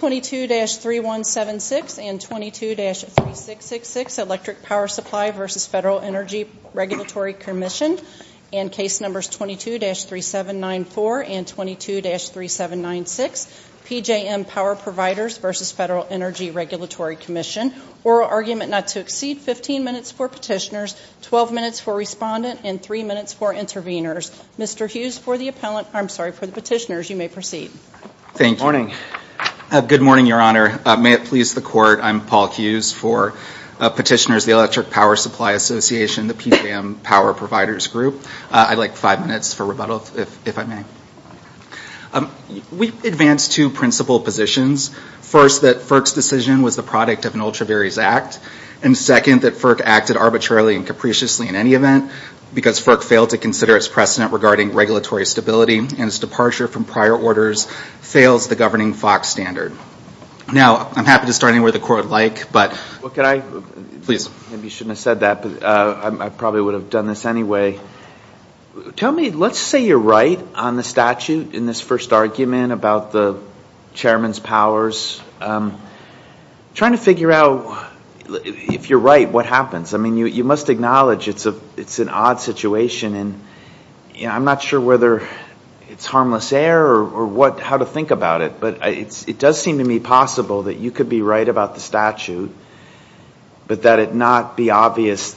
22-3176 and 22-3666 Electric Power Supply v. FEDERAL ENERGY REGULATORY COMMISSION 22-3794 and 22-3796 PJM Power Providers v. FEDERAL ENERGY REGULATORY COMMISSION ORAL ARGUMENT NOT TO EXCEED 15 MINUTES FOR PETITIONERS, 12 MINUTES FOR RESPONDENT AND 3 MINUTES FOR INTERVENERS Mr. Hughes, for the Petitioners, you may proceed. Good morning, Your Honor. May it please the Court, I'm Paul Hughes for Petitioners, the Electric Power Supply Association, the PJM Power Providers Group. I'd like five minutes for rebuttal, if I may. We advance two principal positions. First, that FERC's decision was the product of an Ultravarious Act. And second, that FERC acted arbitrarily and capriciously in any event, because FERC failed to consider its precedent regarding regulatory stability and its departure from prior orders fails the governing FOX standard. Now, I'm happy to start anywhere the Court would like, but... Well, could I? Please. Maybe you shouldn't have said that, but I probably would have done this anyway. Tell me, let's say you're right on the statute in this first argument about the Chairman's powers. I'm trying to figure out, if you're right, what happens. I mean, you must acknowledge it's an odd situation, and I'm not sure whether it's harmless air or how to think about it, but it does seem to me possible that you could be right about the statute, but that it not be obvious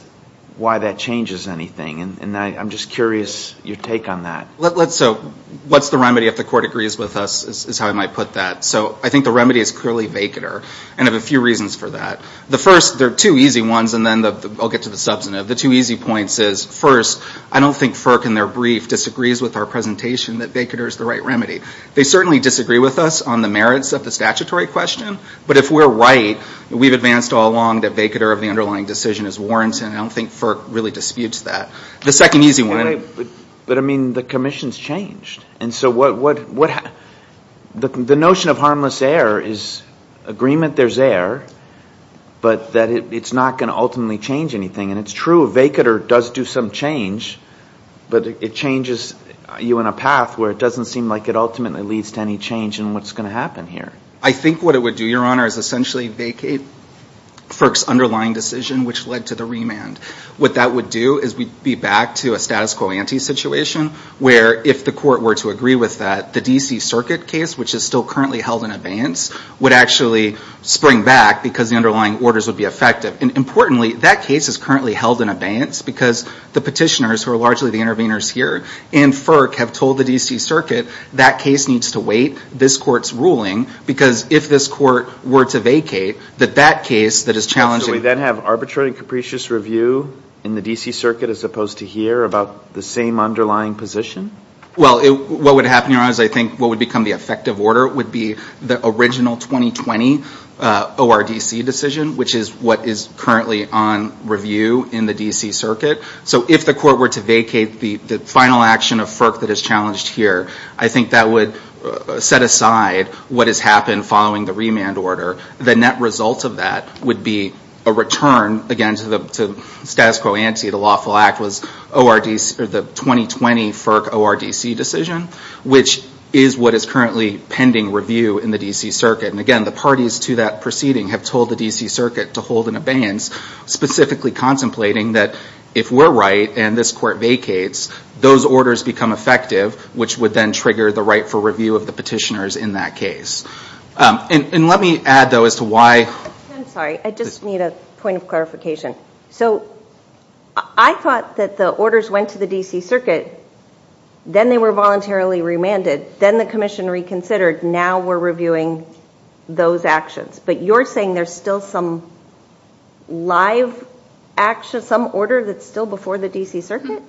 why that changes anything. And I'm just curious your take on that. So, what's the remedy if the Court agrees with us, is how I might put that. So, I think the remedy is clearly vacater, and I have a few reasons for that. The first, there are two easy ones, and then I'll get to the substantive. The two easy points is, first, I don't think FERC in their brief disagrees with our presentation that vacater is the right remedy. They certainly disagree with us on the merits of the statutory question, but if we're right, we've advanced all along that vacater of the underlying decision is warranted, and I don't think FERC really disputes that. The second easy one... But, I mean, the commission's changed, and so what... The notion of harmless air is agreement there's air, but that it's not going to ultimately change anything. And it's true, vacater does do some change, but it changes you in a path where it doesn't seem like it ultimately leads to any change in what's going to happen here. I think what it would do, Your Honor, is essentially vacate FERC's underlying decision, which led to the remand. What that would do is we'd be back to a status quo ante situation, where if the court were to agree with that, the D.C. Circuit case, which is still currently held in abeyance, would actually spring back because the underlying orders would be effective. And importantly, that case is currently held in abeyance because the petitioners, who are largely the interveners here, and FERC have told the D.C. Circuit that case needs to wait, this court's ruling, because if this court were to vacate, that that case that is challenging... So we then have arbitrary and capricious review in the D.C. Circuit as opposed to here about the same underlying position? Well, what would happen, Your Honor, is I think what would become the effective order would be the original 2020 ORDC decision, which is what is currently on review in the D.C. Circuit. So if the court were to vacate the final action of FERC that is challenged here, I think that would set aside what has happened following the remand order. The net result of that would be a return, again, to the status quo ante, the lawful act was the 2020 FERC ORDC decision, which is what is currently pending review in the D.C. Circuit. And again, the parties to that proceeding have told the D.C. Circuit to hold an abeyance, specifically contemplating that if we're right and this court vacates, those orders become effective, which would then trigger the right for review of the petitioners in that case. And let me add, though, as to why... I'm sorry, I just need a point of clarification. So I thought that the orders went to the D.C. Circuit, then they were voluntarily remanded, then the commission reconsidered, now we're reviewing those actions. But you're saying there's still some live action, some order that's still before the D.C. Circuit?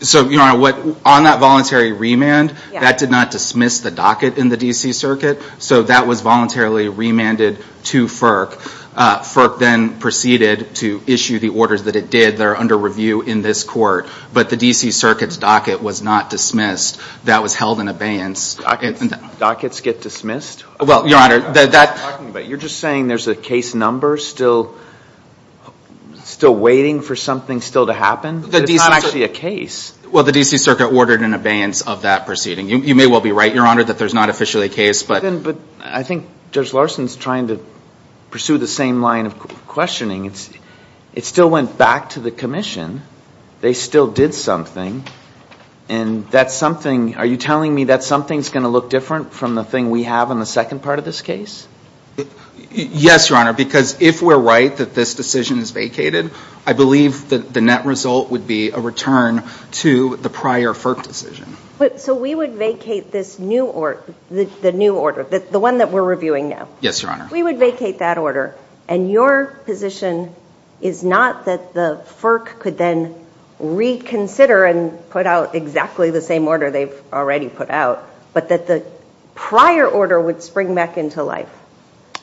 So, Your Honor, on that voluntary remand, that did not dismiss the docket in the D.C. Circuit, so that was voluntarily remanded to FERC. FERC then proceeded to issue the orders that it did. They're under review in this court. But the D.C. Circuit's docket was not dismissed. That was held in abeyance. Dockets get dismissed? Well, Your Honor, that... You're just saying there's a case number still waiting for something still to happen? It's not actually a case. Well, the D.C. Circuit ordered an abeyance of that proceeding. You may well be right, Your Honor, that there's not officially a case, but... But I think Judge Larson's trying to pursue the same line of questioning. It still went back to the commission. They still did something. And that something... Are you telling me that something's going to look different from the thing we have in the second part of this case? Yes, Your Honor, because if we're right that this decision is vacated, I believe that the net result would be a return to the prior FERC decision. So we would vacate this new order, the new order, the one that we're reviewing now? Yes, Your Honor. We would vacate that order, and your position is not that the FERC could then reconsider and put out exactly the same order they've already put out, but that the prior order would spring back into life.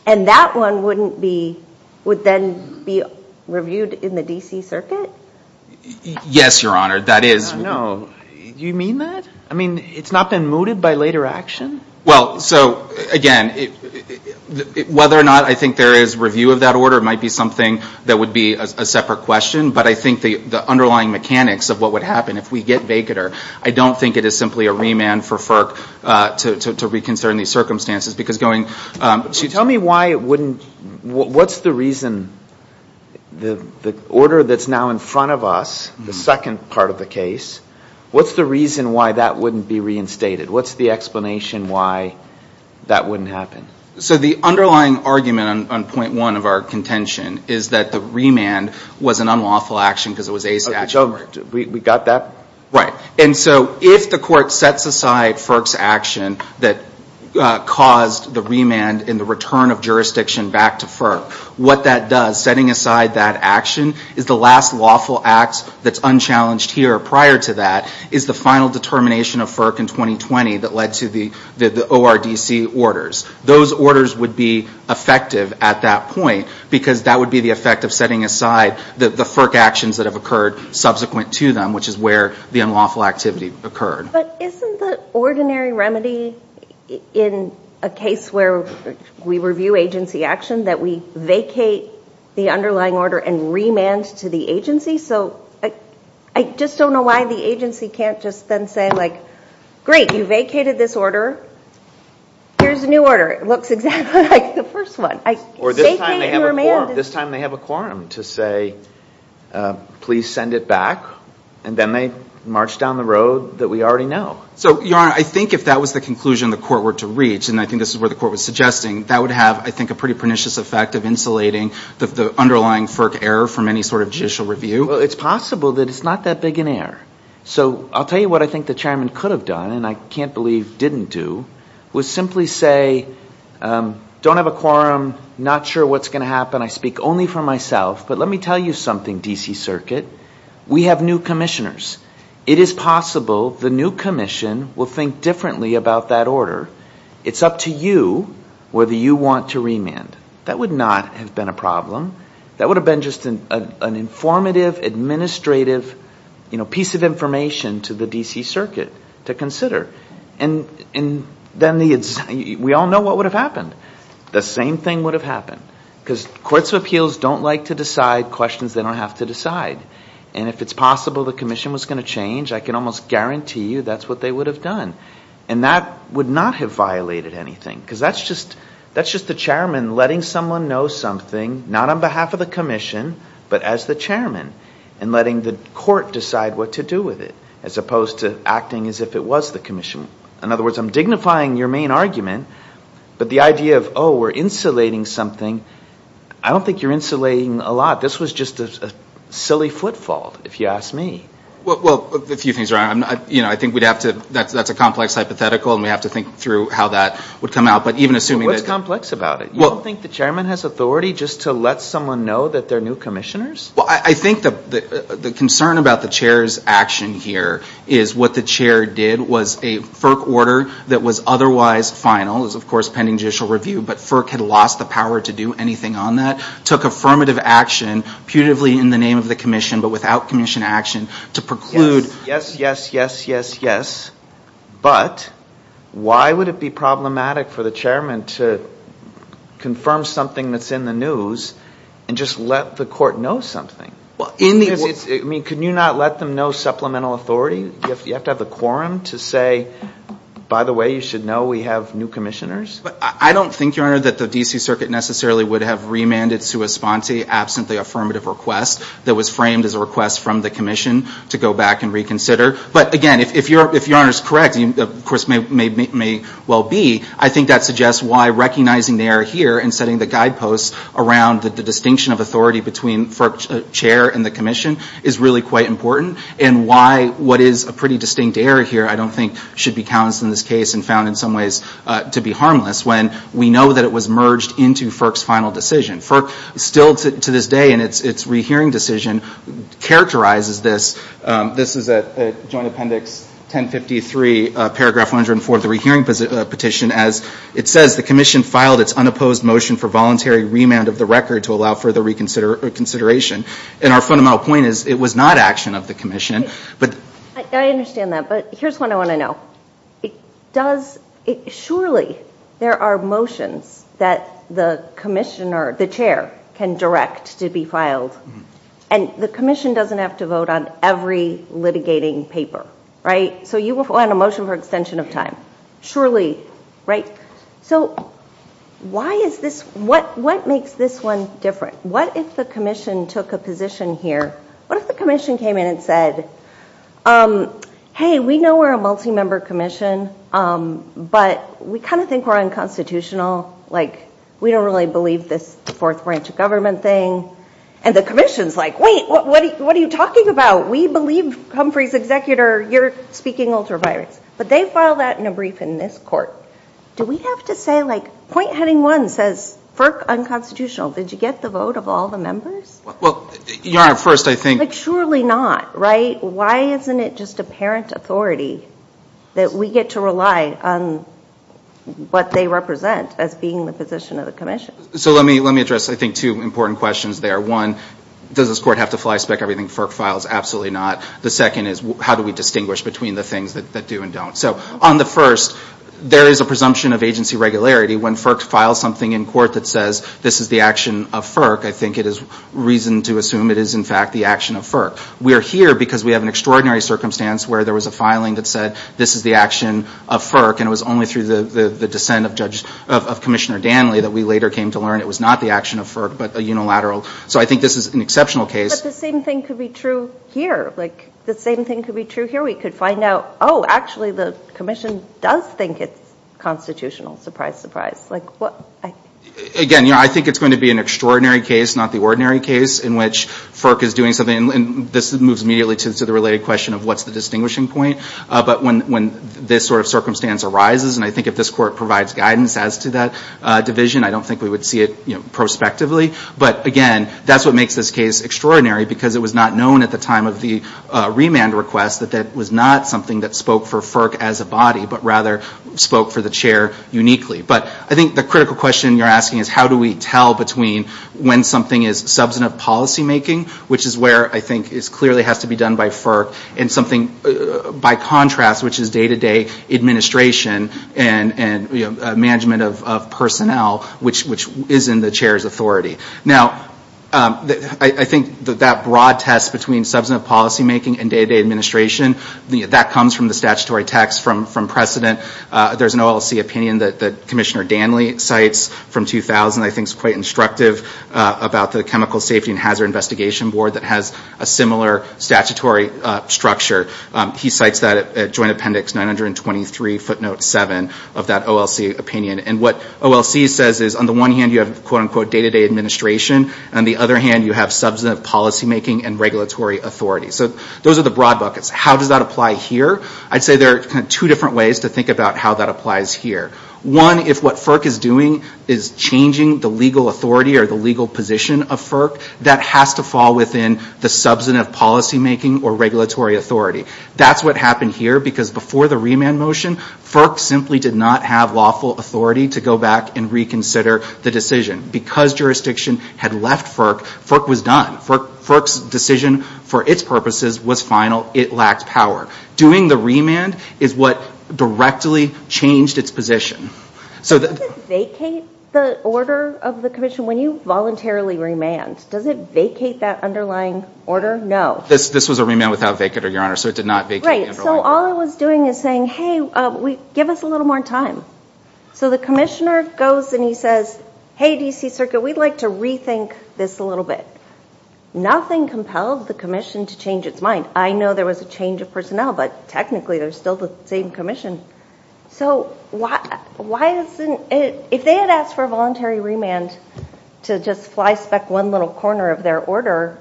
And that one wouldn't be...would then be reviewed in the D.C. Circuit? Yes, Your Honor, that is... No, you mean that? I mean, it's not been mooted by later action? Well, so, again, whether or not I think there is review of that order might be something that would be a separate question, but I think the underlying mechanics of what would happen if we get vacater, I don't think it is simply a remand for FERC to reconsider in these circumstances, because going... So tell me why it wouldn't...what's the reason... the order that's now in front of us, the second part of the case, what's the reason why that wouldn't be reinstated? What's the explanation why that wouldn't happen? So the underlying argument on point one of our contention is that the remand was an unlawful action because it was a statute. We got that? Right. And so if the court sets aside FERC's action that caused the remand and the return of jurisdiction back to FERC, what that does, setting aside that action, is the last lawful act that's unchallenged here prior to that is the final determination of FERC in 2020 that led to the ORDC orders. Those orders would be effective at that point because that would be the effect of setting aside the FERC actions that have occurred subsequent to them, which is where the unlawful activity occurred. But isn't the ordinary remedy in a case where we review agency action that we vacate the underlying order and remand to the agency? So I just don't know why the agency can't just then say, like, great, you vacated this order, here's a new order. It looks exactly like the first one. Or this time they have a quorum. To say, please send it back. And then they march down the road that we already know. So, Your Honor, I think if that was the conclusion the court were to reach, and I think this is what the court was suggesting, that would have, I think, a pretty pernicious effect of insulating the underlying FERC error from any sort of judicial review. Well, it's possible that it's not that big an error. So I'll tell you what I think the chairman could have done, and I can't believe didn't do, was simply say, don't have a quorum, not sure what's going to happen, I speak only for myself, but let me tell you something, D.C. Circuit. We have new commissioners. It is possible the new commission will think differently about that order. It's up to you whether you want to remand. That would not have been a problem. That would have been just an informative, administrative piece of information to the D.C. Circuit to consider. And then we all know what would have happened. The same thing would have happened, because courts of appeals don't like to decide questions they don't have to decide. And if it's possible the commission was going to change, I can almost guarantee you that's what they would have done. And that would not have violated anything, because that's just the chairman letting someone know something, not on behalf of the commission, but as the chairman, and letting the court decide what to do with it, as opposed to acting as if it was the commission. In other words, I'm dignifying your main argument, but the idea of, oh, we're insulating something, I don't think you're insulating a lot. This was just a silly footfall, if you ask me. Well, a few things are wrong. I think that's a complex hypothetical, and we'd have to think through how that would come out. What's complex about it? You don't think the chairman has authority just to let someone know that they're new commissioners? I think the concern about the chair's action here is what the chair did was a FERC order that was otherwise final, it was, of course, pending judicial review, but FERC had lost the power to do anything on that, took affirmative action, putatively in the name of the commission, but without commission action, to preclude... Yes, yes, yes, yes, yes. But why would it be problematic for the chairman to confirm something that's in the news and just let the court know something? I mean, can you not let them know supplemental authority? You have to have the quorum to say, by the way, you should know we have new commissioners? I don't think, Your Honor, that the D.C. Circuit necessarily would have remanded sua sponte absent the affirmative request that was framed as a request from the commission to go back and reconsider. But, again, if Your Honor is correct, and, of course, may well be, I think that suggests why recognizing they are here and setting the guideposts around the distinction of authority between FERC chair and the commission is really quite important and why what is a pretty distinct error here, I don't think, should be counted in this case and found in some ways to be harmless when we know that it was merged into FERC's final decision. FERC still, to this day, in its rehearing decision, characterizes this. This is at Joint Appendix 1053, paragraph 104 of the rehearing petition, as it says, The commission filed its unopposed motion for voluntary remand of the record to allow further reconsideration. And our fundamental point is it was not action of the commission. I understand that, but here's what I want to know. Surely there are motions that the commissioner, the chair, can direct to be filed, and the commission doesn't have to vote on every litigating paper, right? So you will file a motion for extension of time. Surely, right? So why is this? What makes this one different? What if the commission took a position here? What if the commission came in and said, Hey, we know we're a multi-member commission, but we kind of think we're unconstitutional, like we don't really believe this fourth branch of government thing. And the commission's like, wait, what are you talking about? We believe Humphrey's executor, you're speaking ultraviolence. But they filed that in a brief in this court. Do we have to say, like, point heading one says FERC unconstitutional. Did you get the vote of all the members? Like, surely not, right? Why isn't it just apparent authority that we get to rely on what they represent as being the position of the commission? So let me address, I think, two important questions there. One, does this court have to flyspeck everything FERC files? Absolutely not. The second is, how do we distinguish between the things that do and don't? So on the first, there is a presumption of agency regularity when FERC files something in court that says this is the action of FERC. I think it is reason to assume it is, in fact, the action of FERC. We are here because we have an extraordinary circumstance where there was a filing that said this is the action of FERC, and it was only through the dissent of Commissioner Danley that we later came to learn it was not the action of FERC, but a unilateral. So I think this is an exceptional case. But the same thing could be true here. Like, the same thing could be true here. We could find out, oh, actually the commission does think it's constitutional. Surprise, surprise. Again, I think it's going to be an extraordinary case, not the ordinary case, in which FERC is doing something, and this moves immediately to the related question of what's the distinguishing point. But when this sort of circumstance arises, and I think if this court provides guidance as to that division, I don't think we would see it prospectively. But again, that's what makes this case extraordinary, because it was not known at the time of the remand request that that was not something that spoke for FERC as a body, but rather spoke for the chair uniquely. But I think the critical question you're asking is how do we tell between when something is substantive policymaking, which is where I think it clearly has to be done by FERC, and something by contrast, which is day-to-day administration and management of personnel, which is in the chair's authority. Now, I think that that broad test between substantive policymaking and day-to-day administration, that comes from the statutory text from precedent. There's an OLC opinion that Commissioner Danley cites from 2000 that I think is quite instructive about the Chemical Safety and Hazard Investigation Board that has a similar statutory structure. He cites that at Joint Appendix 923 footnote 7 of that OLC opinion. And what OLC says is on the one hand you have quote-unquote day-to-day administration, and on the other hand you have substantive policymaking and regulatory authority. So those are the broad buckets. How does that apply here? I'd say there are two different ways to think about how that applies here. One, if what FERC is doing is changing the legal authority or the legal position of FERC, that has to fall within the substantive policymaking or regulatory authority. That's what happened here because before the remand motion, FERC simply did not have lawful authority to go back and reconsider the decision. Because jurisdiction had left FERC, FERC was done. FERC's decision for its purposes was final. It lacked power. Doing the remand is what directly changed its position. Does it vacate the order of the commission when you voluntarily remand? Does it vacate that underlying order? No. This was a remand without vacater, Your Honor, so it did not vacate the underlying order. So all it was doing is saying, hey, give us a little more time. So the commissioner goes and he says, hey, D.C. Circuit, we'd like to rethink this a little bit. Nothing compelled the commission to change its mind. I know there was a change of personnel, but technically they're still the same commission. So if they had asked for a voluntary remand to just flyspeck one little corner of their order,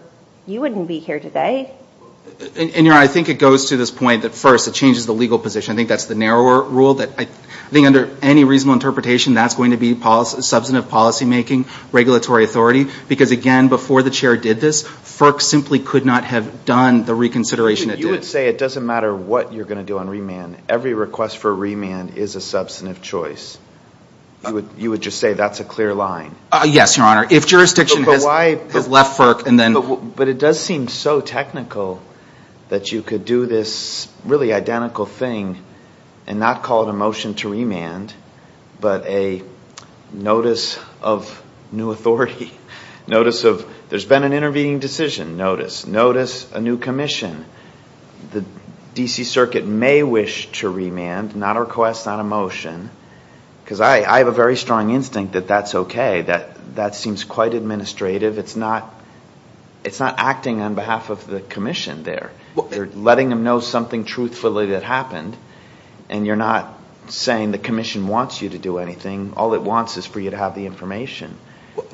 you wouldn't be here today. And, Your Honor, I think it goes to this point that, first, it changes the legal position. I think that's the narrower rule. I think under any reasonable interpretation, that's going to be substantive policymaking, regulatory authority, because, again, before the chair did this, You would say it doesn't matter what you're going to do on remand. Every request for a remand is a substantive choice. You would just say that's a clear line. Yes, Your Honor. If jurisdiction has left FERC and then... But it does seem so technical that you could do this really identical thing and not call it a motion to remand, but a notice of new authority. Notice of there's been an intervening decision. Notice. Notice a new commission. The D.C. Circuit may wish to remand, not a request, not a motion, because I have a very strong instinct that that's okay. That seems quite administrative. It's not acting on behalf of the commission there. You're letting them know something truthfully that happened, and you're not saying the commission wants you to do anything. All it wants is for you to have the information.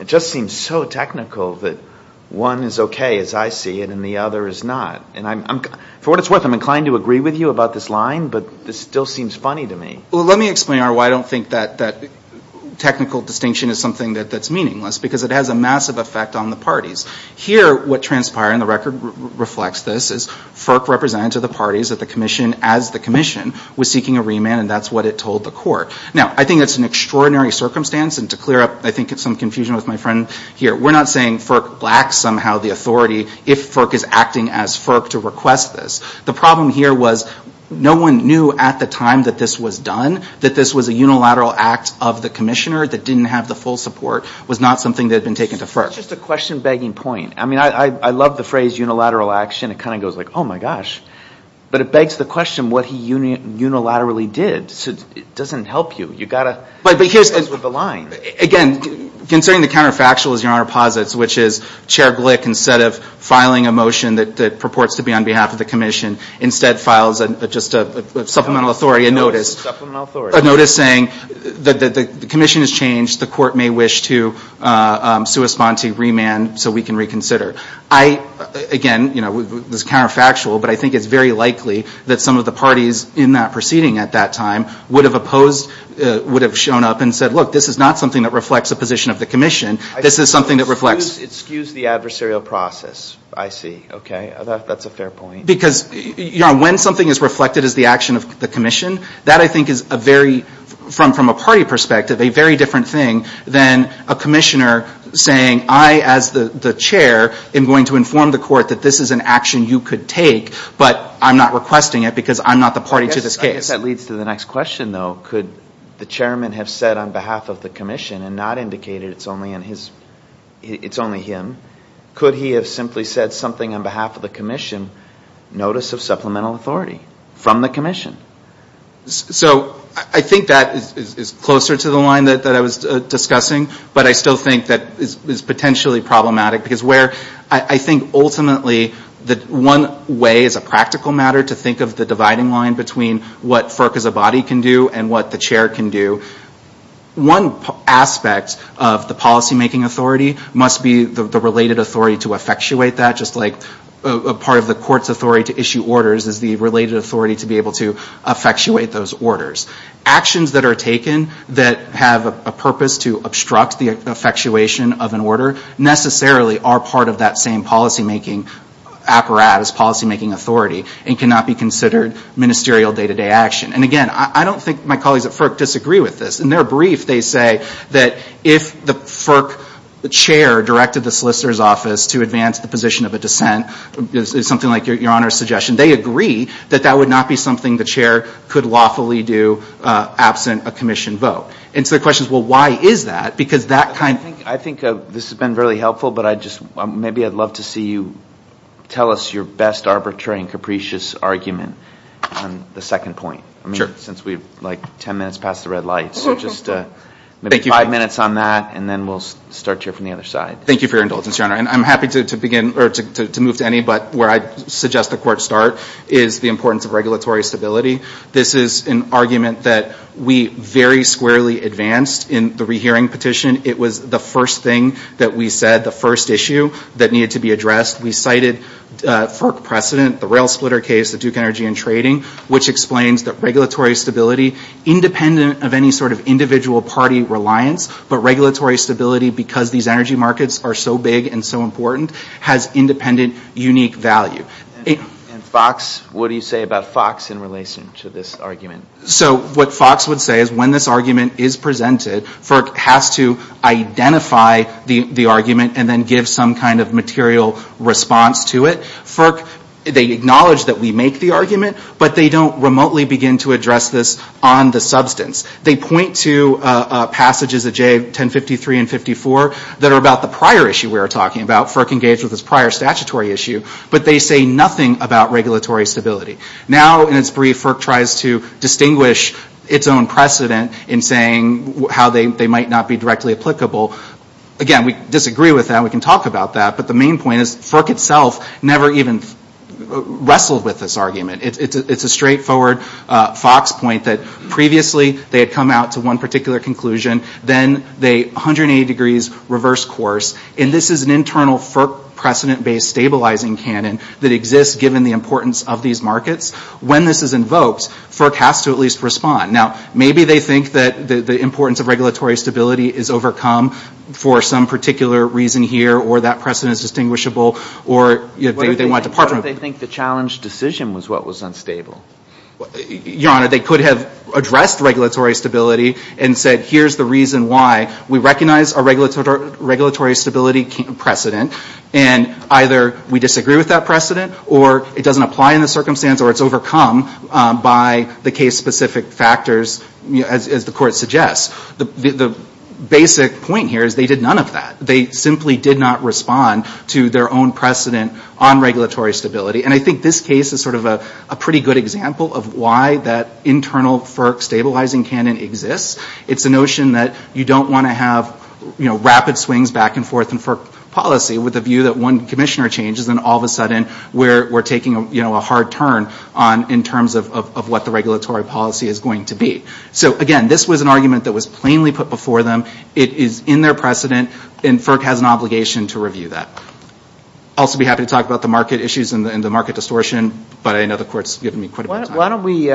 It just seems so technical that one is okay as I see it and the other is not. For what it's worth, I'm inclined to agree with you about this line, but this still seems funny to me. Let me explain, Your Honor, why I don't think that technical distinction is something that's meaningless, because it has a massive effect on the parties. Here, what transpired, and the record reflects this, is FERC represented to the parties that the commission, as the commission, was seeking a remand, and that's what it told the court. Now, I think that's an extraordinary circumstance, and to clear up, I think, some confusion with my friend here, we're not saying FERC lacks somehow the authority, if FERC is acting as FERC, to request this. The problem here was no one knew at the time that this was done, that this was a unilateral act of the commissioner that didn't have the full support, was not something that had been taken to FERC. It's just a question-begging point. I mean, I love the phrase unilateral action. It kind of goes like, oh, my gosh. But it begs the question what he unilaterally did. It doesn't help you. You've got to go with the line. Again, considering the counterfactual, as Your Honor posits, which is Chair Glick, instead of filing a motion that purports to be on behalf of the commission, instead files just a supplemental authority, a notice. A supplemental authority. A notice saying the commission has changed. The court may wish to respond to remand so we can reconsider. I, again, you know, this is counterfactual, but I think it's very likely that some of the parties in that proceeding at that time would have opposed, would have shown up and said, look, this is not something that reflects a position of the commission. This is something that reflects. It skews the adversarial process, I see. Okay. That's a fair point. Because, Your Honor, when something is reflected as the action of the commission, that I think is a very, from a party perspective, a very different thing than a commissioner saying I, as the chair, am going to inform the court that this is an action you could take, but I'm not requesting it because I'm not the party to this case. I guess that leads to the next question, though. Could the chairman have said on behalf of the commission and not indicated it's only in his, it's only him, could he have simply said something on behalf of the commission, notice of supplemental authority from the commission? So I think that is closer to the line that I was discussing, but I still think that is potentially problematic, because where I think ultimately that one way as a practical matter to think of the dividing line between what FERC as a body can do and what the chair can do, one aspect of the policymaking authority must be the related authority to effectuate that, just like a part of the court's authority to issue orders is the related authority to be able to effectuate those orders. Actions that are taken that have a purpose to obstruct the effectuation of an order necessarily are part of that same policymaking apparatus, policymaking authority, and cannot be considered ministerial day-to-day action. And again, I don't think my colleagues at FERC disagree with this. In their brief, they say that if the FERC chair directed the solicitor's office to advance the position of a dissent, something like your Honor's suggestion, they agree that that would not be something the chair could lawfully do absent a commission vote. And so the question is, well, why is that? Because that kind of thing. I think this has been really helpful, but maybe I'd love to see you tell us your best arbitrary and capricious argument on the second point, since we're like ten minutes past the red light. So just maybe five minutes on that, and then we'll start here from the other side. Thank you for your indulgence, Your Honor. And I'm happy to move to any, but where I'd suggest the court start is the importance of regulatory stability. This is an argument that we very squarely advanced in the rehearing petition. It was the first thing that we said, the first issue that needed to be addressed. We cited FERC precedent, the rail splitter case, the Duke Energy and Trading, which explains that regulatory stability, independent of any sort of individual party reliance, but regulatory stability because these energy markets are so big and so important, has independent, unique value. And Fox, what do you say about Fox in relation to this argument? So what Fox would say is when this argument is presented, FERC has to identify the argument and then give some kind of material response to it. FERC, they acknowledge that we make the argument, but they don't remotely begin to address this on the substance. They point to passages of J1053 and 54 that are about the prior issue we were talking about. FERC engaged with this prior statutory issue, but they say nothing about regulatory stability. Now, in its brief, FERC tries to distinguish its own precedent in saying how they might not be directly applicable. Again, we disagree with that. We can talk about that. But the main point is FERC itself never even wrestled with this argument. It's a straightforward Fox point that previously they had come out to one particular conclusion. Then they 180 degrees reverse course. And this is an internal FERC precedent-based stabilizing canon that exists given the importance of these markets. When this is invoked, FERC has to at least respond. Now, maybe they think that the importance of regulatory stability is overcome for some particular reason here, or that precedent is distinguishable, or they want to part from it. What if they think the challenge decision was what was unstable? Your Honor, they could have addressed regulatory stability and said, here's the reason why. We recognize a regulatory stability precedent, and either we disagree with that precedent, or it doesn't apply in the circumstance, or it's overcome by the case-specific factors, as the Court suggests. The basic point here is they did none of that. They simply did not respond to their own precedent on regulatory stability. And I think this case is sort of a pretty good example of why that internal FERC stabilizing canon exists. It's a notion that you don't want to have rapid swings back and forth in FERC policy with the view that one commissioner changes, and all of a sudden we're taking a hard turn in terms of what the regulatory policy is going to be. So, again, this was an argument that was plainly put before them. It is in their precedent, and FERC has an obligation to review that. I'll also be happy to talk about the market issues and the market distortion, but I know the Court's given me quite a bit of time. Why don't we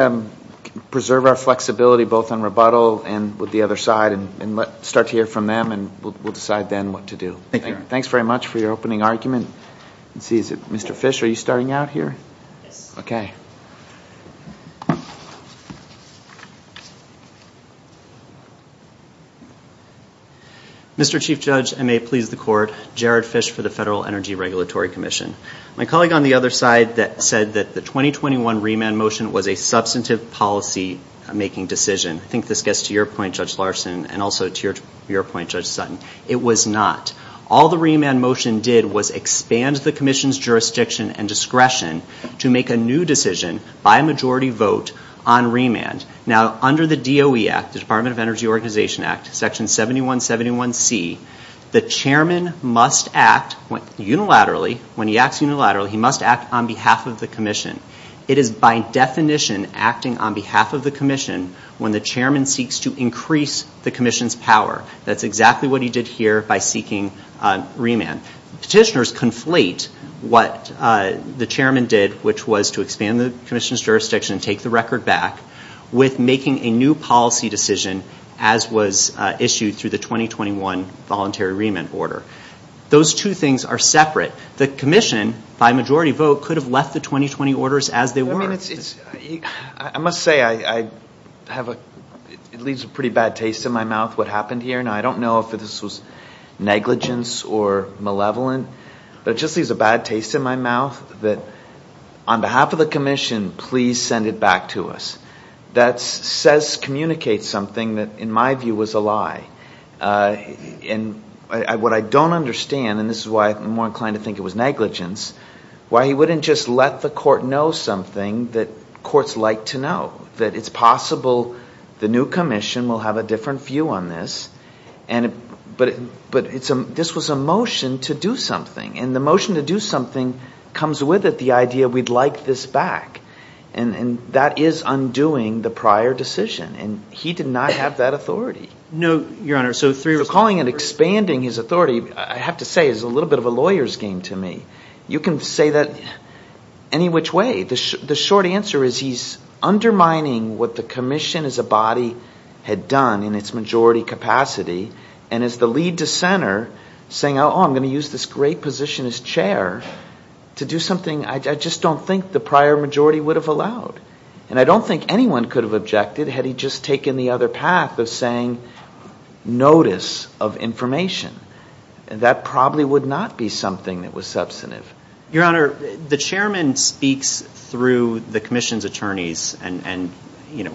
preserve our flexibility, both on rebuttal and with the other side, and let's start to hear from them, and we'll decide then what to do. Thanks very much for your opening argument. Mr. Fish, are you starting out here? Yes. Okay. Mr. Chief Judge, and may it please the Court, Jared Fish for the Federal Energy Regulatory Commission. My colleague on the other side said that the 2021 remand motion was a substantive policy-making decision. I think this gets to your point, Judge Larson, and also to your point, Judge Sutton. It was not. All the remand motion did was expand the Commission's jurisdiction and discretion to make a new decision by a majority vote on remand. Now, under the DOE Act, the Department of Energy Organization Act, Section 7171C, the Chairman must act unilaterally. When he acts unilaterally, he must act on behalf of the Commission. It is by definition acting on behalf of the Commission when the Chairman seeks to increase the Commission's power. That's exactly what he did here by seeking remand. Petitioners conflate what the Chairman did, which was to expand the Commission's jurisdiction and take the record back, with making a new policy decision as was issued through the 2021 voluntary remand order. Those two things are separate. The Commission, by majority vote, could have left the 2020 orders as they were. I must say, it leaves a pretty bad taste in my mouth what happened here. Now, I don't know if this was negligence or malevolent, but it just leaves a bad taste in my mouth that on behalf of the Commission, please send it back to us. That says, communicates something that, in my view, was a lie. And what I don't understand, and this is why I'm more inclined to think it was negligence, why he wouldn't just let the court know something that courts like to know, that it's possible the new Commission will have a different view on this. But this was a motion to do something, and the motion to do something comes with it, the idea we'd like this back. And that is undoing the prior decision, and he did not have that authority. No, Your Honor, so three... Recalling and expanding his authority, I have to say, is a little bit of a lawyer's game to me. You can say that any which way. The short answer is he's undermining what the Commission as a body had done in its majority capacity, and is the lead dissenter saying, oh, I'm going to use this great position as chair to do something I just don't think the prior majority would have allowed. And I don't think anyone could have objected had he just taken the other path of saying notice of information. That probably would not be something that was substantive. Your Honor, the chairman speaks through the Commission's attorneys, and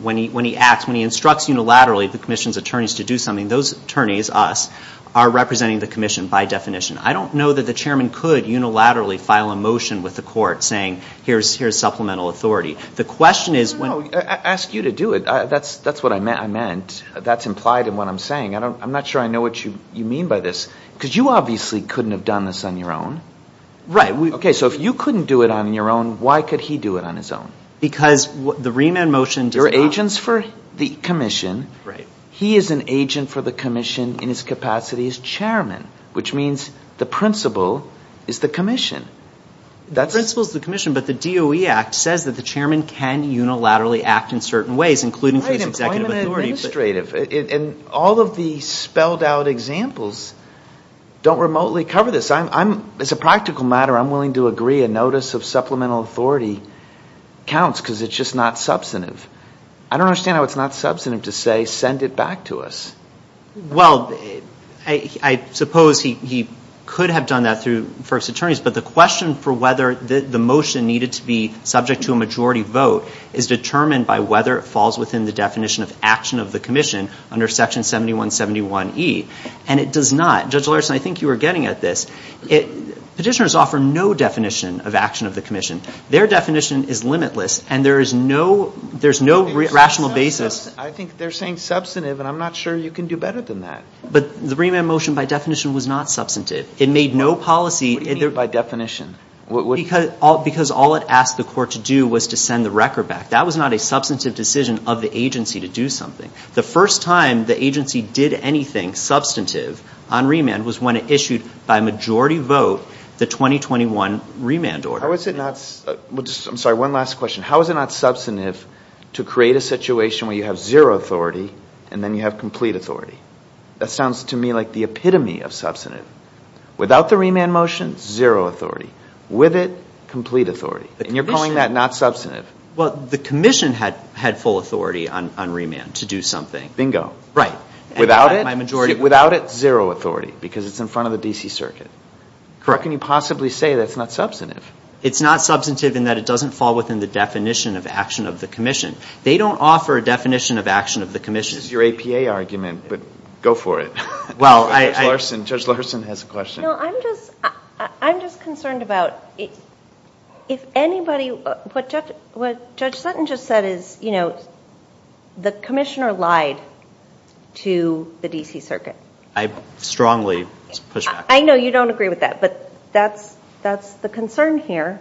when he acts, when he instructs unilaterally the Commission's attorneys to do something, those attorneys, us, are representing the Commission by definition. I don't know that the chairman could unilaterally file a motion with the court saying here's supplemental authority. The question is when... No, no, no, I asked you to do it. That's what I meant. That's implied in what I'm saying. I'm not sure I know what you mean by this, because you obviously couldn't have done this on your own. Right. Okay, so if you couldn't do it on your own, why could he do it on his own? Because the remand motion does not... You're agents for the Commission. Right. He is an agent for the Commission in his capacity as chairman, which means the principal is the Commission. The principal is the Commission, but the DOE Act says that the chairman can unilaterally act in certain ways, including through his executive authority. Right, employment and administrative. And all of the spelled out examples don't remotely cover this. As a practical matter, I'm willing to agree a notice of supplemental authority counts because it's just not substantive. I don't understand how it's not substantive to say send it back to us. Well, I suppose he could have done that through first attorneys, but the question for whether the motion needed to be subject to a majority vote is determined by whether it falls within the definition of action of the Commission under Section 7171E, and it does not. Judge Larson, I think you were getting at this. Petitioners offer no definition of action of the Commission. Their definition is limitless, and there is no rational basis. I think they're saying substantive, and I'm not sure you can do better than that. But the remand motion by definition was not substantive. It made no policy. What do you mean by definition? Because all it asked the court to do was to send the record back. That was not a substantive decision of the agency to do something. The first time the agency did anything substantive on remand was when it issued by majority vote the 2021 remand order. I'm sorry, one last question. How is it not substantive to create a situation where you have zero authority and then you have complete authority? That sounds to me like the epitome of substantive. Without the remand motion, zero authority. With it, complete authority. And you're calling that not substantive. Well, the Commission had full authority on remand to do something. Right. Without it, zero authority because it's in front of the D.C. Circuit. How can you possibly say that's not substantive? It's not substantive in that it doesn't fall within the definition of action of the Commission. They don't offer a definition of action of the Commission. This is your APA argument, but go for it. Judge Larson has a question. You know, I'm just concerned about if anybody, what Judge Sutton just said is, you know, the Commissioner lied to the D.C. Circuit. I strongly push back. I know you don't agree with that, but that's the concern here.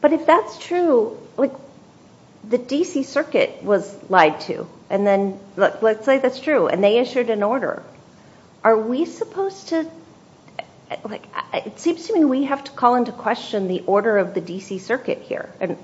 But if that's true, like the D.C. Circuit was lied to, and then let's say that's true, and they issued an order. Are we supposed to, like, it seems to me we have to call into question the order of the D.C. Circuit here. And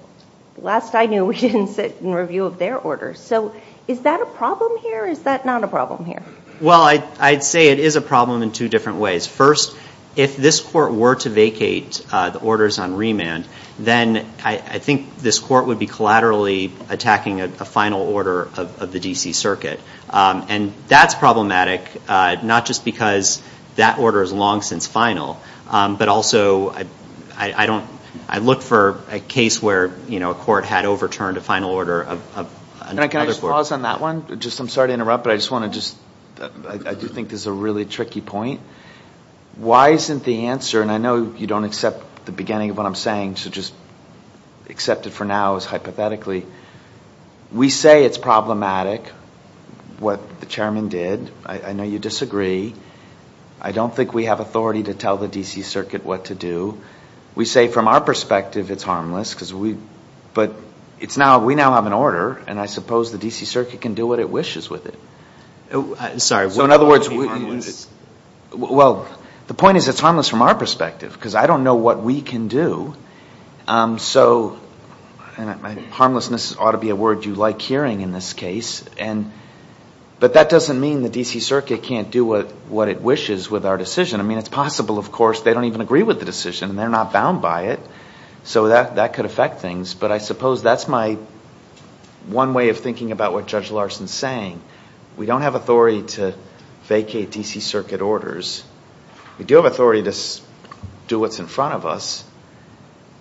last I knew, we didn't sit in review of their order. So is that a problem here, or is that not a problem here? Well, I'd say it is a problem in two different ways. First, if this Court were to vacate the orders on remand, then I think this Court would be collaterally attacking a final order of the D.C. Circuit. And that's problematic, not just because that order is long since final, but also I look for a case where, you know, a court had overturned a final order of another court. Can I just pause on that one? I'm sorry to interrupt, but I just want to just, I do think this is a really tricky point. Why isn't the answer, and I know you don't accept the beginning of what I'm saying, so just accept it for now as hypothetically. We say it's problematic, what the Chairman did. I know you disagree. I don't think we have authority to tell the D.C. Circuit what to do. We say from our perspective it's harmless, but we now have an order, and I suppose the D.C. Circuit can do what it wishes with it. So in other words, well, the point is it's harmless from our perspective, because I don't know what we can do. So harmlessness ought to be a word you like hearing in this case, but that doesn't mean the D.C. Circuit can't do what it wishes with our decision. I mean, it's possible, of course, they don't even agree with the decision, and they're not bound by it, so that could affect things. But I suppose that's my one way of thinking about what Judge Larson is saying. We don't have authority to vacate D.C. Circuit orders. We do have authority to do what's in front of us.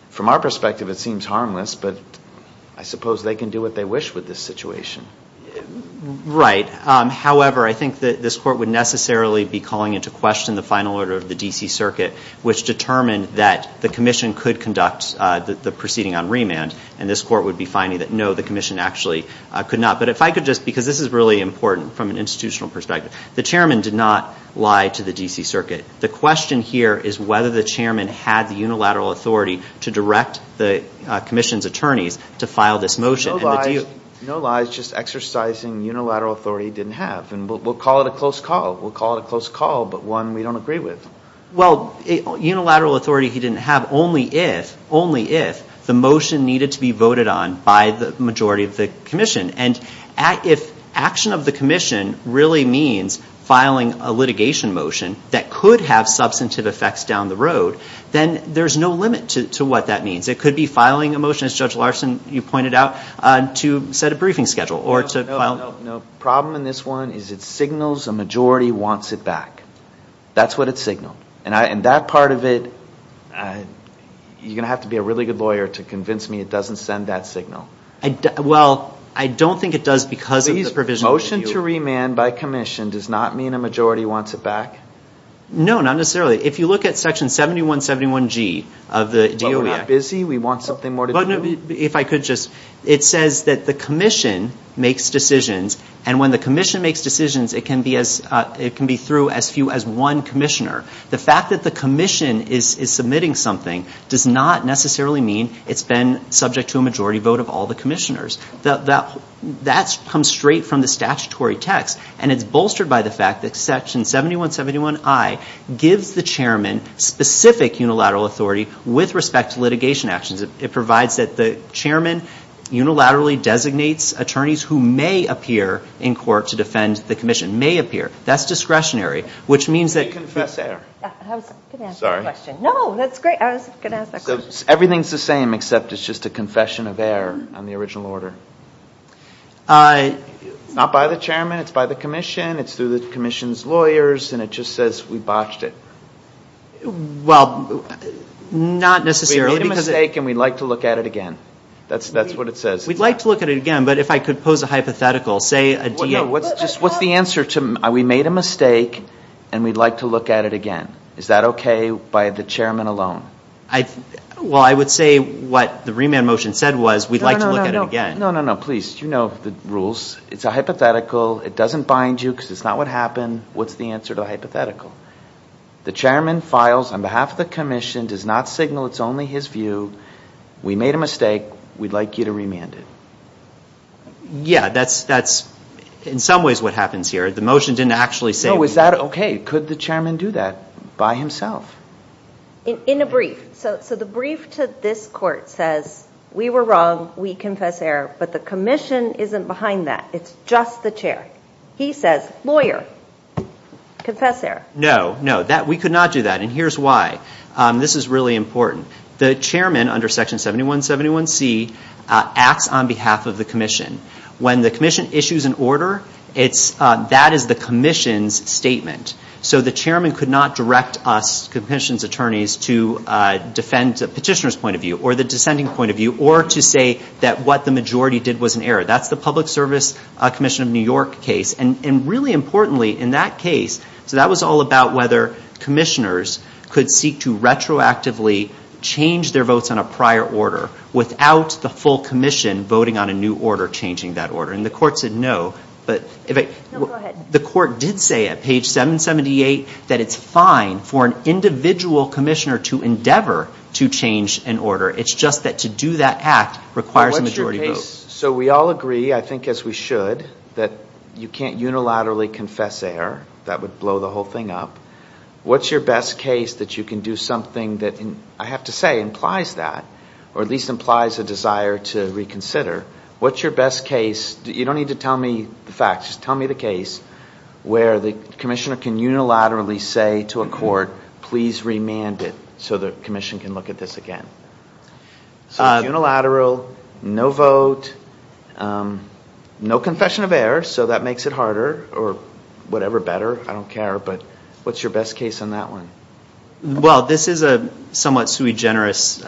From our perspective, it seems harmless, but I suppose they can do what they wish with this situation. Right. However, I think that this Court would necessarily be calling into question the final order of the D.C. Circuit, which determined that the Commission could conduct the proceeding on remand, and this Court would be finding that, no, the Commission actually could not. But if I could just, because this is really important from an institutional perspective, the Chairman did not lie to the D.C. Circuit. The question here is whether the Chairman had the unilateral authority to direct the Commission's attorneys to file this motion. No lies. No lies, just exercising unilateral authority he didn't have. And we'll call it a close call. We'll call it a close call, but one we don't agree with. Well, unilateral authority he didn't have only if the motion needed to be voted on by the majority of the Commission. And if action of the Commission really means filing a litigation motion that could have substantive effects down the road, then there's no limit to what that means. It could be filing a motion, as Judge Larson, you pointed out, to set a briefing schedule or to file. No, no, no. The problem in this one is it signals a majority wants it back. That's what it signaled. And that part of it, you're going to have to be a really good lawyer to convince me it doesn't send that signal. Well, I don't think it does because of the provision. The motion to remand by Commission does not mean a majority wants it back? No, not necessarily. If you look at Section 7171G of the DOE Act. Well, we're not busy. We want something more to do. If I could just. It says that the Commission makes decisions. And when the Commission makes decisions, it can be through as few as one Commissioner. The fact that the Commission is submitting something does not necessarily mean it's been subject to a majority vote of all the Commissioners. That comes straight from the statutory text. And it's bolstered by the fact that Section 7171I gives the Chairman specific unilateral authority with respect to litigation actions. It provides that the Chairman unilaterally designates attorneys who may appear in court to defend the Commission, may appear. That's discretionary, which means that. Did you confess error? I was going to ask that question. No, that's great. I was going to ask that question. Everything's the same except it's just a confession of error on the original order. It's not by the Chairman. It's by the Commission. It's through the Commission's lawyers. And it just says we botched it. Well, not necessarily. We made a mistake and we'd like to look at it again. That's what it says. We'd like to look at it again, but if I could pose a hypothetical. What's the answer to we made a mistake and we'd like to look at it again? Is that okay by the Chairman alone? Well, I would say what the remand motion said was we'd like to look at it again. No, no, no, please. You know the rules. It's a hypothetical. It doesn't bind you because it's not what happened. What's the answer to the hypothetical? The Chairman files on behalf of the Commission, does not signal it's only his view. We made a mistake. We'd like you to remand it. Yeah, that's in some ways what happens here. The motion didn't actually say we would. No, is that okay? Could the Chairman do that by himself? In a brief. So the brief to this Court says we were wrong, we confess error, but the Commission isn't behind that. It's just the Chair. He says, lawyer, confess error. No, no, we could not do that, and here's why. This is really important. The Chairman, under Section 7171C, acts on behalf of the Commission. When the Commission issues an order, that is the Commission's statement. So the Chairman could not direct us, the Commission's attorneys, to defend the petitioner's point of view or the dissenting point of view or to say that what the majority did was an error. That's the Public Service Commission of New York case, and really importantly in that case, so that was all about whether Commissioners could seek to retroactively change their votes on a prior order without the full Commission voting on a new order, changing that order, and the Court said no. No, go ahead. The Court did say at page 778 that it's fine for an individual Commissioner to endeavor to change an order. It's just that to do that act requires a majority vote. So we all agree, I think as we should, that you can't unilaterally confess error. That would blow the whole thing up. What's your best case that you can do something that I have to say implies that or at least implies a desire to reconsider? What's your best case? You don't need to tell me the facts. Just tell me the case where the Commissioner can unilaterally say to a Court, please remand it so the Commission can look at this again. So it's unilateral, no vote, no confession of error, so that makes it harder or whatever better. I don't care, but what's your best case on that one? Well, this is a somewhat sui generis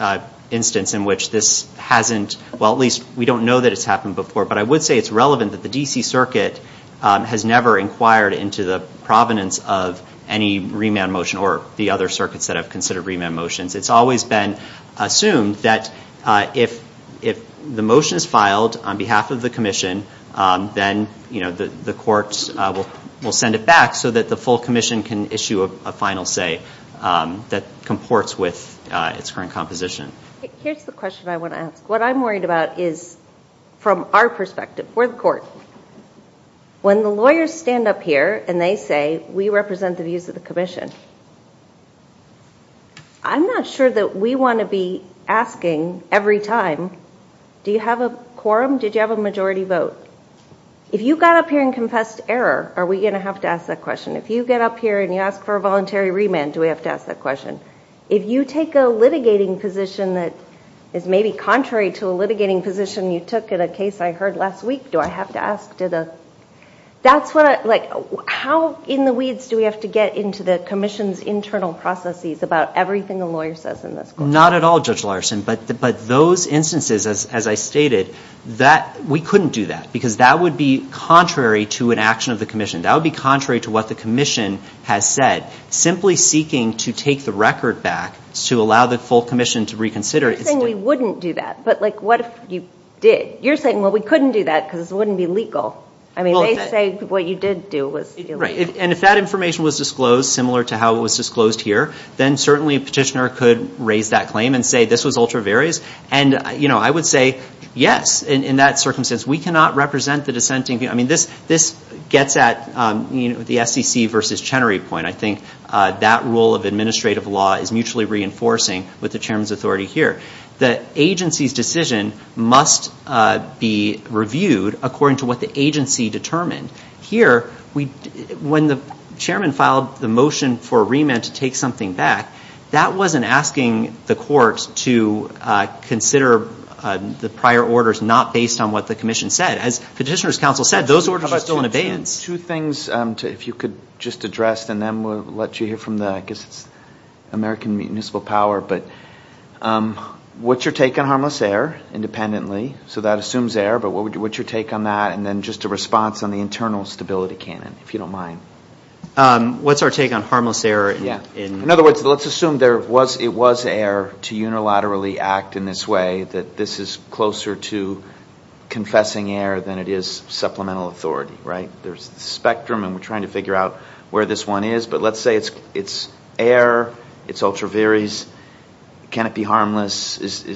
instance in which this hasn't, well, at least we don't know that it's happened before, but I would say it's relevant that the D.C. Circuit has never inquired into the provenance of any remand motion or the other circuits that have considered remand motions. It's always been assumed that if the motion is filed on behalf of the Commission, then the Court will send it back so that the full Commission can issue a final say that comports with its current composition. Here's the question I want to ask. What I'm worried about is from our perspective, for the Court, when the lawyers stand up here and they say, we represent the views of the Commission, I'm not sure that we want to be asking every time, do you have a quorum? Did you have a majority vote? If you got up here and confessed error, are we going to have to ask that question? If you get up here and you ask for a voluntary remand, do we have to ask that question? If you take a litigating position that is maybe contrary to a litigating position you took in a case I heard last week, do I have to ask? How in the weeds do we have to get into the Commission's internal processes about everything a lawyer says in this case? Not at all, Judge Larson, but those instances, as I stated, we couldn't do that because that would be contrary to an action of the Commission. That would be contrary to what the Commission has said. Simply seeking to take the record back to allow the full Commission to reconsider. You're saying we wouldn't do that, but what if you did? You're saying, well, we couldn't do that because it wouldn't be legal. I mean, they say what you did do was illegal. Right, and if that information was disclosed similar to how it was disclosed here, then certainly a petitioner could raise that claim and say this was ultra various. And, you know, I would say yes, in that circumstance. We cannot represent the dissenting. I mean, this gets at the SEC versus Chenery point. I think that rule of administrative law is mutually reinforcing with the Chairman's authority here. The agency's decision must be reviewed according to what the agency determined. Here, when the Chairman filed the motion for a remand to take something back, that wasn't asking the court to consider the prior orders not based on what the Commission said. As Petitioner's Council said, those orders are still in abeyance. Two things, if you could just address, and then we'll let you hear from the American Municipal Power. But what's your take on harmless air independently? So that assumes air, but what's your take on that? And then just a response on the internal stability canon, if you don't mind. What's our take on harmless air? In other words, let's assume it was air to unilaterally act in this way, that this is closer to confessing air than it is supplemental authority, right? There's the spectrum, and we're trying to figure out where this one is. But let's say it's air, it's ultra various. Can it be harmless?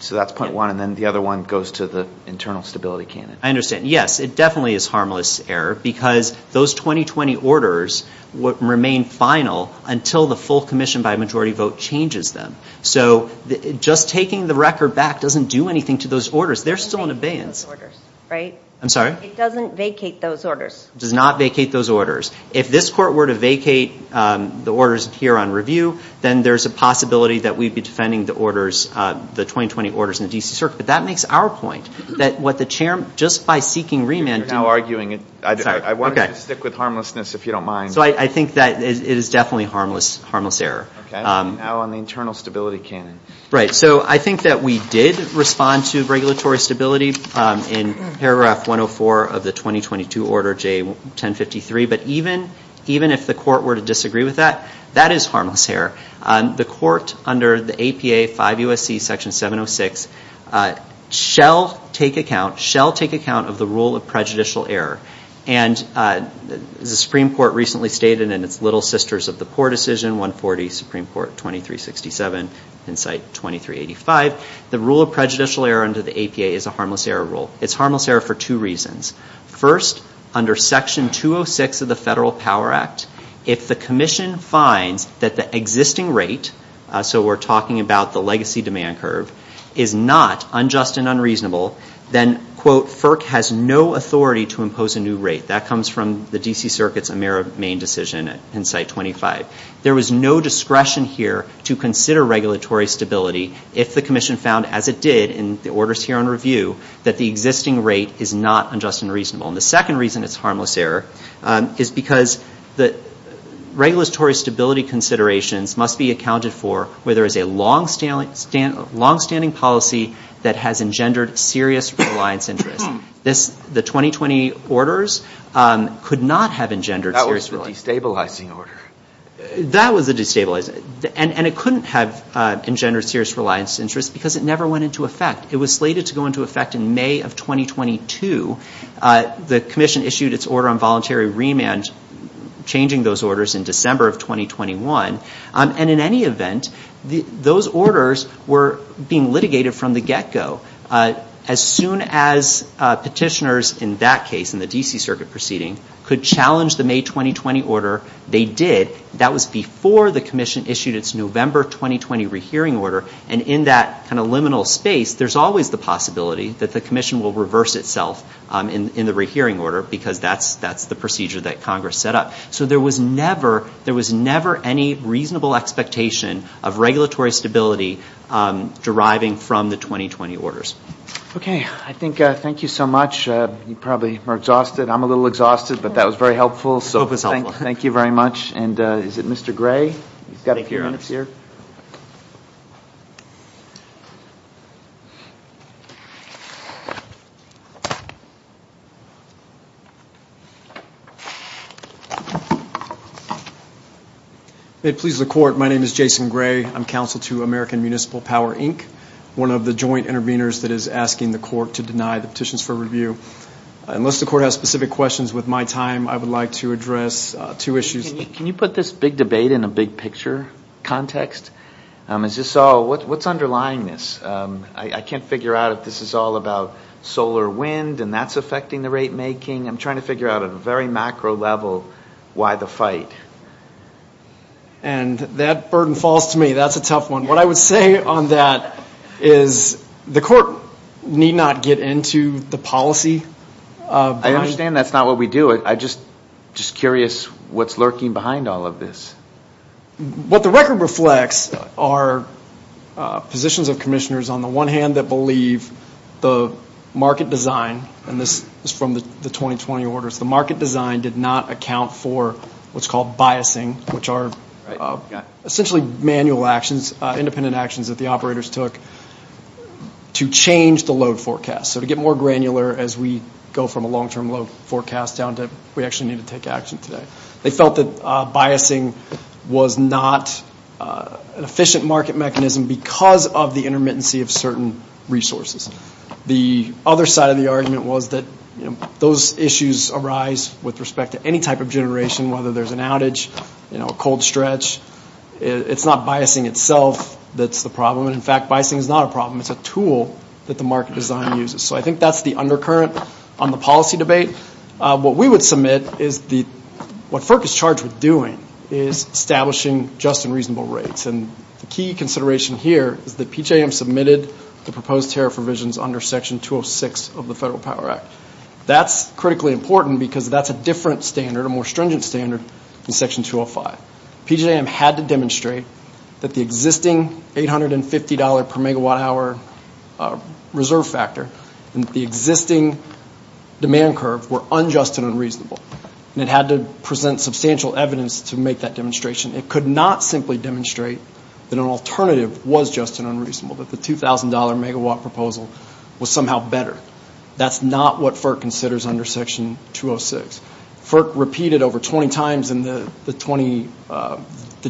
So that's point one. And then the other one goes to the internal stability canon. I understand. Yes, it definitely is harmless air because those 2020 orders remain final until the full commission by majority vote changes them. So just taking the record back doesn't do anything to those orders. They're still in abeyance. It doesn't vacate those orders, right? I'm sorry? It doesn't vacate those orders. It does not vacate those orders. If this court were to vacate the orders here on review, then there's a possibility that we'd be defending the 2020 orders in the D.C. Circuit. But that makes our point that what the chair, just by seeking remand. You're now arguing it. I wanted to stick with harmlessness if you don't mind. So I think that it is definitely harmless air. Okay. Now on the internal stability canon. Right. So I think that we did respond to regulatory stability in paragraph 104 of the 2022 order, J1053. But even if the court were to disagree with that, that is harmless air. The court under the APA 5 U.S.C. section 706 shall take account of the rule of prejudicial error. And the Supreme Court recently stated in its little sisters of the poor decision, 140 Supreme Court 2367, in site 2385, the rule of prejudicial error under the APA is a harmless error rule. It's harmless error for two reasons. First, under section 206 of the Federal Power Act, if the commission finds that the existing rate, so we're talking about the legacy demand curve, is not unjust and unreasonable, then, quote, FERC has no authority to impose a new rate. That comes from the D.C. Circuit's Amero main decision in site 25. There was no discretion here to consider regulatory stability if the commission found, as it did in the orders here on review, that the existing rate is not unjust and reasonable. And the second reason it's harmless error is because the regulatory stability considerations must be accounted for where there is a longstanding policy that has engendered serious reliance interest. The 2020 orders could not have engendered serious reliance interest. That was a destabilizing order. That was a destabilizing. And it couldn't have engendered serious reliance interest because it never went into effect. It was slated to go into effect in May of 2022. The commission issued its order on voluntary remand, changing those orders in December of 2021. And in any event, those orders were being litigated from the get-go. As soon as petitioners in that case, in the D.C. Circuit proceeding, could challenge the May 2020 order, they did. That was before the commission issued its November 2020 rehearing order. And in that kind of liminal space, there's always the possibility that the commission will reverse itself in the rehearing order because that's the procedure that Congress set up. So there was never any reasonable expectation of regulatory stability deriving from the 2020 orders. Okay. I think thank you so much. You probably are exhausted. I'm a little exhausted, but that was very helpful. Thank you very much. And is it Mr. Gray? He's got a few minutes here. If it pleases the court, my name is Jason Gray. I'm counsel to American Municipal Power, Inc., one of the joint interveners that is asking the court to deny the petitions for review. Unless the court has specific questions, with my time, I would like to address two issues. Can you put this big debate in a big picture context? What's underlying this? I can't figure out if this is all about solar wind and that's affecting the rate making. I'm trying to figure out at a very macro level why the fight. And that burden falls to me. That's a tough one. What I would say on that is the court need not get into the policy. I understand that's not what we do. But I'm just curious what's lurking behind all of this. What the record reflects are positions of commissioners on the one hand that believe the market design, and this is from the 2020 orders, the market design did not account for what's called biasing, which are essentially manual actions, independent actions that the operators took to change the load forecast. So to get more granular as we go from a long-term load forecast down to we actually need to take action today. They felt that biasing was not an efficient market mechanism because of the intermittency of certain resources. The other side of the argument was that those issues arise with respect to any type of generation, whether there's an outage, a cold stretch. It's not biasing itself that's the problem. In fact, biasing is not a problem. It's a tool that the market design uses. So I think that's the undercurrent on the policy debate. What we would submit is what FERC is charged with doing is establishing just and reasonable rates. And the key consideration here is that PJM submitted the proposed tariff revisions under Section 206 of the Federal Power Act. That's critically important because that's a different standard, a more stringent standard, than Section 205. PJM had to demonstrate that the existing $850 per megawatt hour reserve factor and the existing demand curve were unjust and unreasonable. And it had to present substantial evidence to make that demonstration. It could not simply demonstrate that an alternative was just and unreasonable, that the $2,000 megawatt proposal was somehow better. That's not what FERC considers under Section 206. FERC repeated over 20 times in the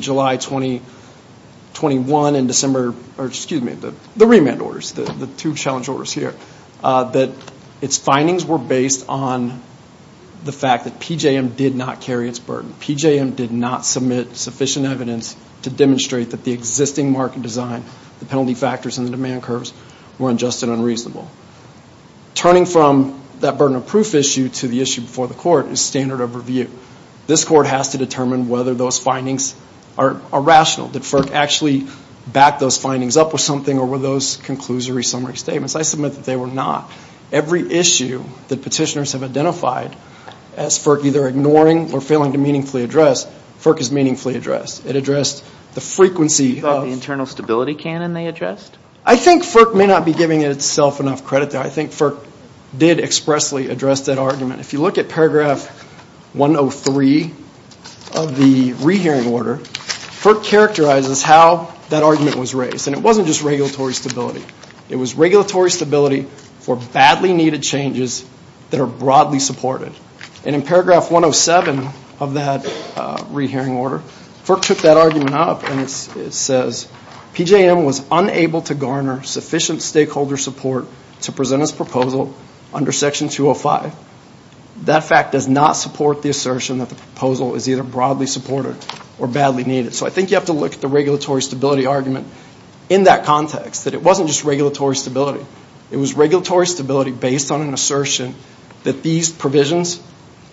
July 2021 and December, or excuse me, the remand orders, the two challenge orders here, that its findings were based on the fact that PJM did not carry its burden. PJM did not submit sufficient evidence to demonstrate that the existing market design, the penalty factors, and the demand curves were unjust and unreasonable. Turning from that burden of proof issue to the issue before the court is standard of review. This court has to determine whether those findings are rational. Did FERC actually back those findings up with something or were those conclusory summary statements? I submit that they were not. Every issue that petitioners have identified as FERC either ignoring or failing to meaningfully address, FERC has meaningfully addressed. It addressed the frequency of... You thought the internal stability canon they addressed? I think FERC may not be giving itself enough credit there. I think FERC did expressly address that argument. If you look at paragraph 103 of the rehearing order, FERC characterizes how that argument was raised. And it wasn't just regulatory stability. It was regulatory stability for badly needed changes that are broadly supported. And in paragraph 107 of that rehearing order, FERC took that argument up and it says, PJM was unable to garner sufficient stakeholder support to present its proposal under section 205. That fact does not support the assertion that the proposal is either broadly supported or badly needed. So I think you have to look at the regulatory stability argument in that context, that it wasn't just regulatory stability. It was regulatory stability based on an assertion that these provisions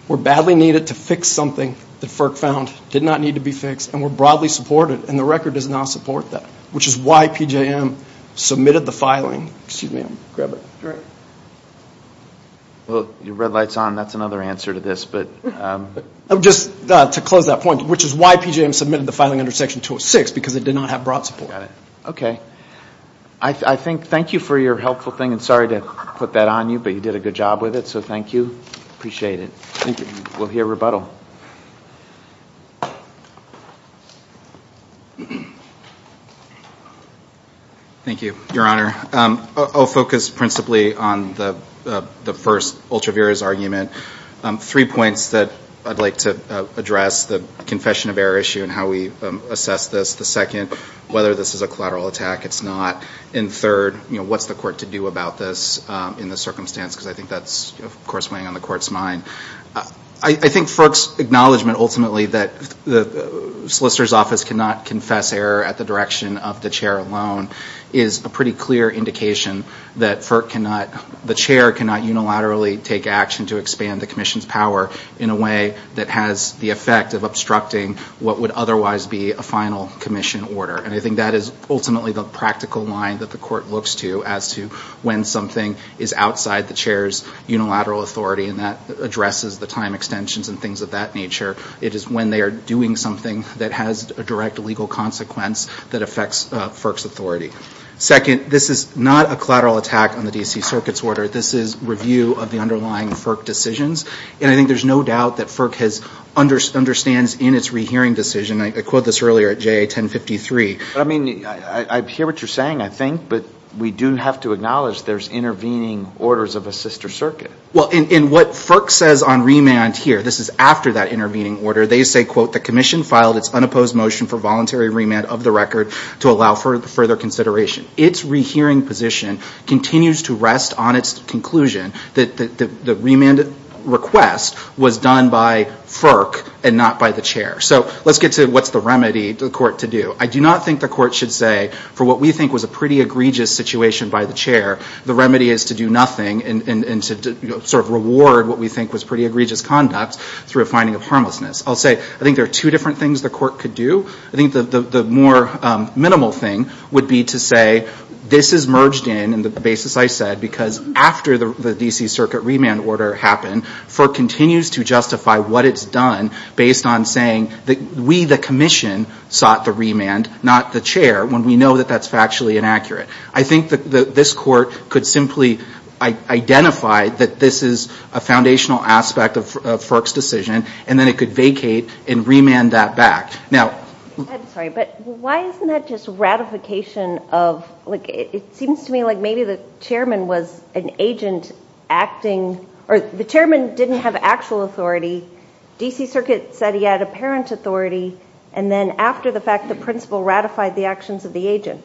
were badly needed to fix something that FERC found did not need to be fixed and were broadly supported. And the record does not support that, which is why PJM submitted the filing. Excuse me. Well, your red light's on. That's another answer to this. Just to close that point, which is why PJM submitted the filing under section 206, because it did not have broad support. Got it. Okay. I think, thank you for your helpful thing. And sorry to put that on you, but you did a good job with it. So thank you. Appreciate it. Thank you. We'll hear rebuttal. Thank you, Your Honor. I'll focus principally on the first, Ultravera's argument. Three points that I'd like to address. The confession of error issue and how we assess this. The second, whether this is a collateral attack. It's not. And third, what's the court to do about this in this circumstance? Because I think that's, of course, weighing on the court's mind. I think FERC's acknowledgment, ultimately, that the solicitor's office cannot confess error at the direction of the chair alone, is a pretty clear indication that the chair cannot unilaterally take action to expand the commission's power in a way that has the effect of obstructing what would otherwise be a final commission order. And I think that is ultimately the practical line that the court looks to as to when something is outside the chair's unilateral authority and that addresses the time extensions and things of that nature. It is when they are doing something that has a direct legal consequence that affects FERC's authority. Second, this is not a collateral attack on the D.C. Circuit's order. This is review of the underlying FERC decisions. And I think there's no doubt that FERC understands in its rehearing decision, and I quote this earlier at JA 1053, I mean, I hear what you're saying, I think, but we do have to acknowledge there's intervening orders of a sister circuit. Well, in what FERC says on remand here, this is after that intervening order, they say, quote, the commission filed its unopposed motion for voluntary remand of the record to allow for further consideration. Its rehearing position continues to rest on its conclusion that the remand request was done by FERC and not by the chair. So let's get to what's the remedy for the court to do. I do not think the court should say for what we think was a pretty egregious situation by the chair, the remedy is to do nothing and to sort of reward what we think was pretty egregious conduct through a finding of harmlessness. I'll say I think there are two different things the court could do. I think the more minimal thing would be to say this is merged in, in the basis I said, because after the D.C. Circuit remand order happened, FERC continues to justify what it's done based on saying that we the commission sought the remand, not the chair, when we know that that's factually inaccurate. I think that this court could simply identify that this is a foundational aspect of FERC's decision, and then it could vacate and remand that back. Now ‑‑ I'm sorry, but why isn't that just ratification of, like, it seems to me like maybe the chairman was an agent acting, or the chairman didn't have actual authority. D.C. Circuit said he had apparent authority, and then after the fact the principal ratified the actions of the agent.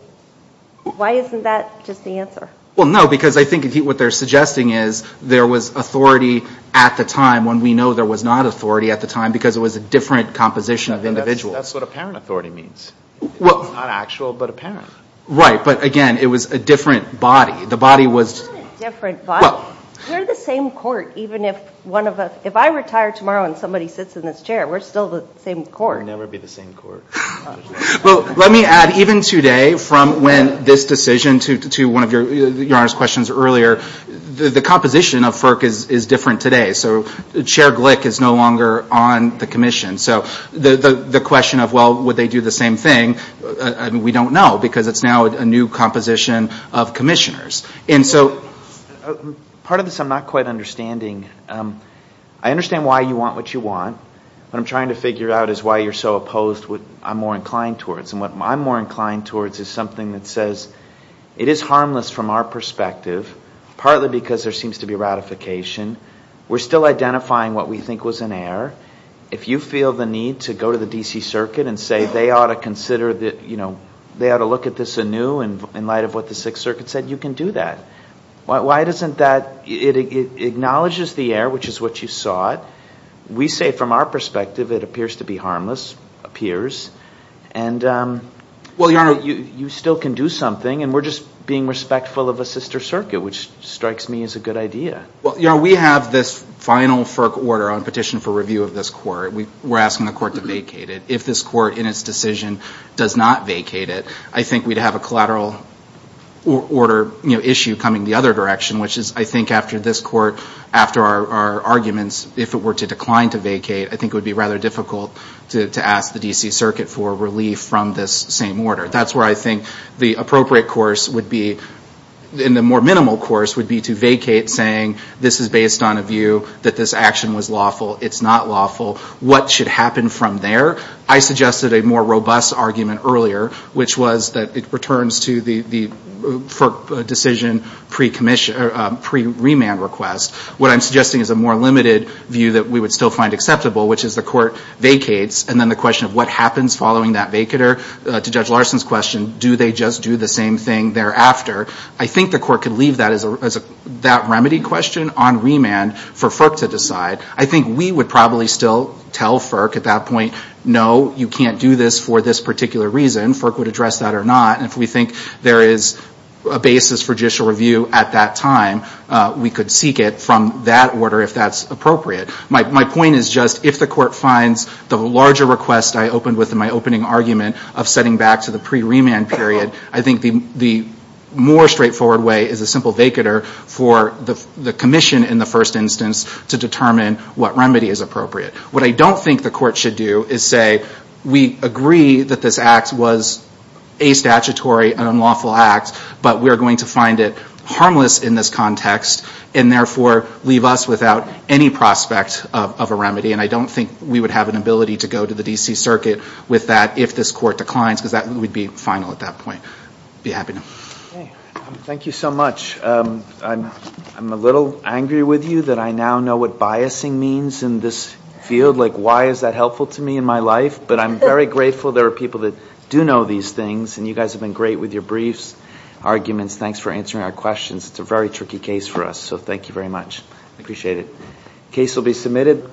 Why isn't that just the answer? Well, no, because I think what they're suggesting is there was authority at the time when we know there was not authority at the time because it was a different composition of individuals. That's what apparent authority means. It's not actual, but apparent. Right, but again, it was a different body. It's not a different body. We're the same court, even if one of us ‑‑ if I retire tomorrow and somebody sits in this chair, we're still the same court. We'll never be the same court. Well, let me add, even today from when this decision to one of your Honor's questions earlier, the composition of FERC is different today. So Chair Glick is no longer on the commission. So the question of, well, would they do the same thing, we don't know, because it's now a new composition of commissioners. And so part of this I'm not quite understanding. I understand why you want what you want. What I'm trying to figure out is why you're so opposed to what I'm more inclined towards. And what I'm more inclined towards is something that says it is harmless from our perspective, partly because there seems to be ratification. We're still identifying what we think was an error. If you feel the need to go to the D.C. Circuit and say they ought to consider, you know, they ought to look at this anew in light of what the Sixth Circuit said, you can do that. Why doesn't that ‑‑ it acknowledges the error, which is what you sought. We say from our perspective it appears to be harmless, appears. And you still can do something. And we're just being respectful of a sister circuit, which strikes me as a good idea. Well, we have this final FERC order on petition for review of this court. We're asking the court to vacate it. If this court in its decision does not vacate it, I think we'd have a collateral order issue coming the other direction, which is I think after this court, after our arguments, if it were to decline to vacate, I think it would be rather difficult to ask the D.C. Circuit for relief from this same order. That's where I think the appropriate course would be, and the more minimal course would be to vacate saying this is based on a view that this action was lawful, it's not lawful, what should happen from there. I suggested a more robust argument earlier, which was that it returns to the FERC decision pre‑remand request. What I'm suggesting is a more limited view that we would still find acceptable, which is the court vacates, and then the question of what happens following that vacater, to Judge Larson's question, do they just do the same thing thereafter, I think the court could leave that remedy question on remand for FERC to decide. I think we would probably still tell FERC at that point, no, you can't do this for this particular reason. FERC would address that or not, and if we think there is a basis for judicial review at that time, we could seek it from that order if that's appropriate. My point is just if the court finds the larger request I opened with in my opening argument of setting back to the pre‑remand period, I think the more straightforward way is a simple vacater for the commission in the first instance to determine what remedy is appropriate. What I don't think the court should do is say, we agree that this act was a statutory and unlawful act, but we are going to find it harmless in this context, and therefore leave us without any prospect of a remedy, and I don't think we would have an ability to go to the D.C. Circuit with that if this court declines, because that would be final at that point. I'd be happy to. Okay. Thank you so much. I'm a little angry with you that I now know what biasing means in this field. Like, why is that helpful to me in my life? But I'm very grateful there are people that do know these things, and you guys have been great with your briefs, arguments. Thanks for answering our questions. It's a very tricky case for us, so thank you very much. I appreciate it. Case will be submitted.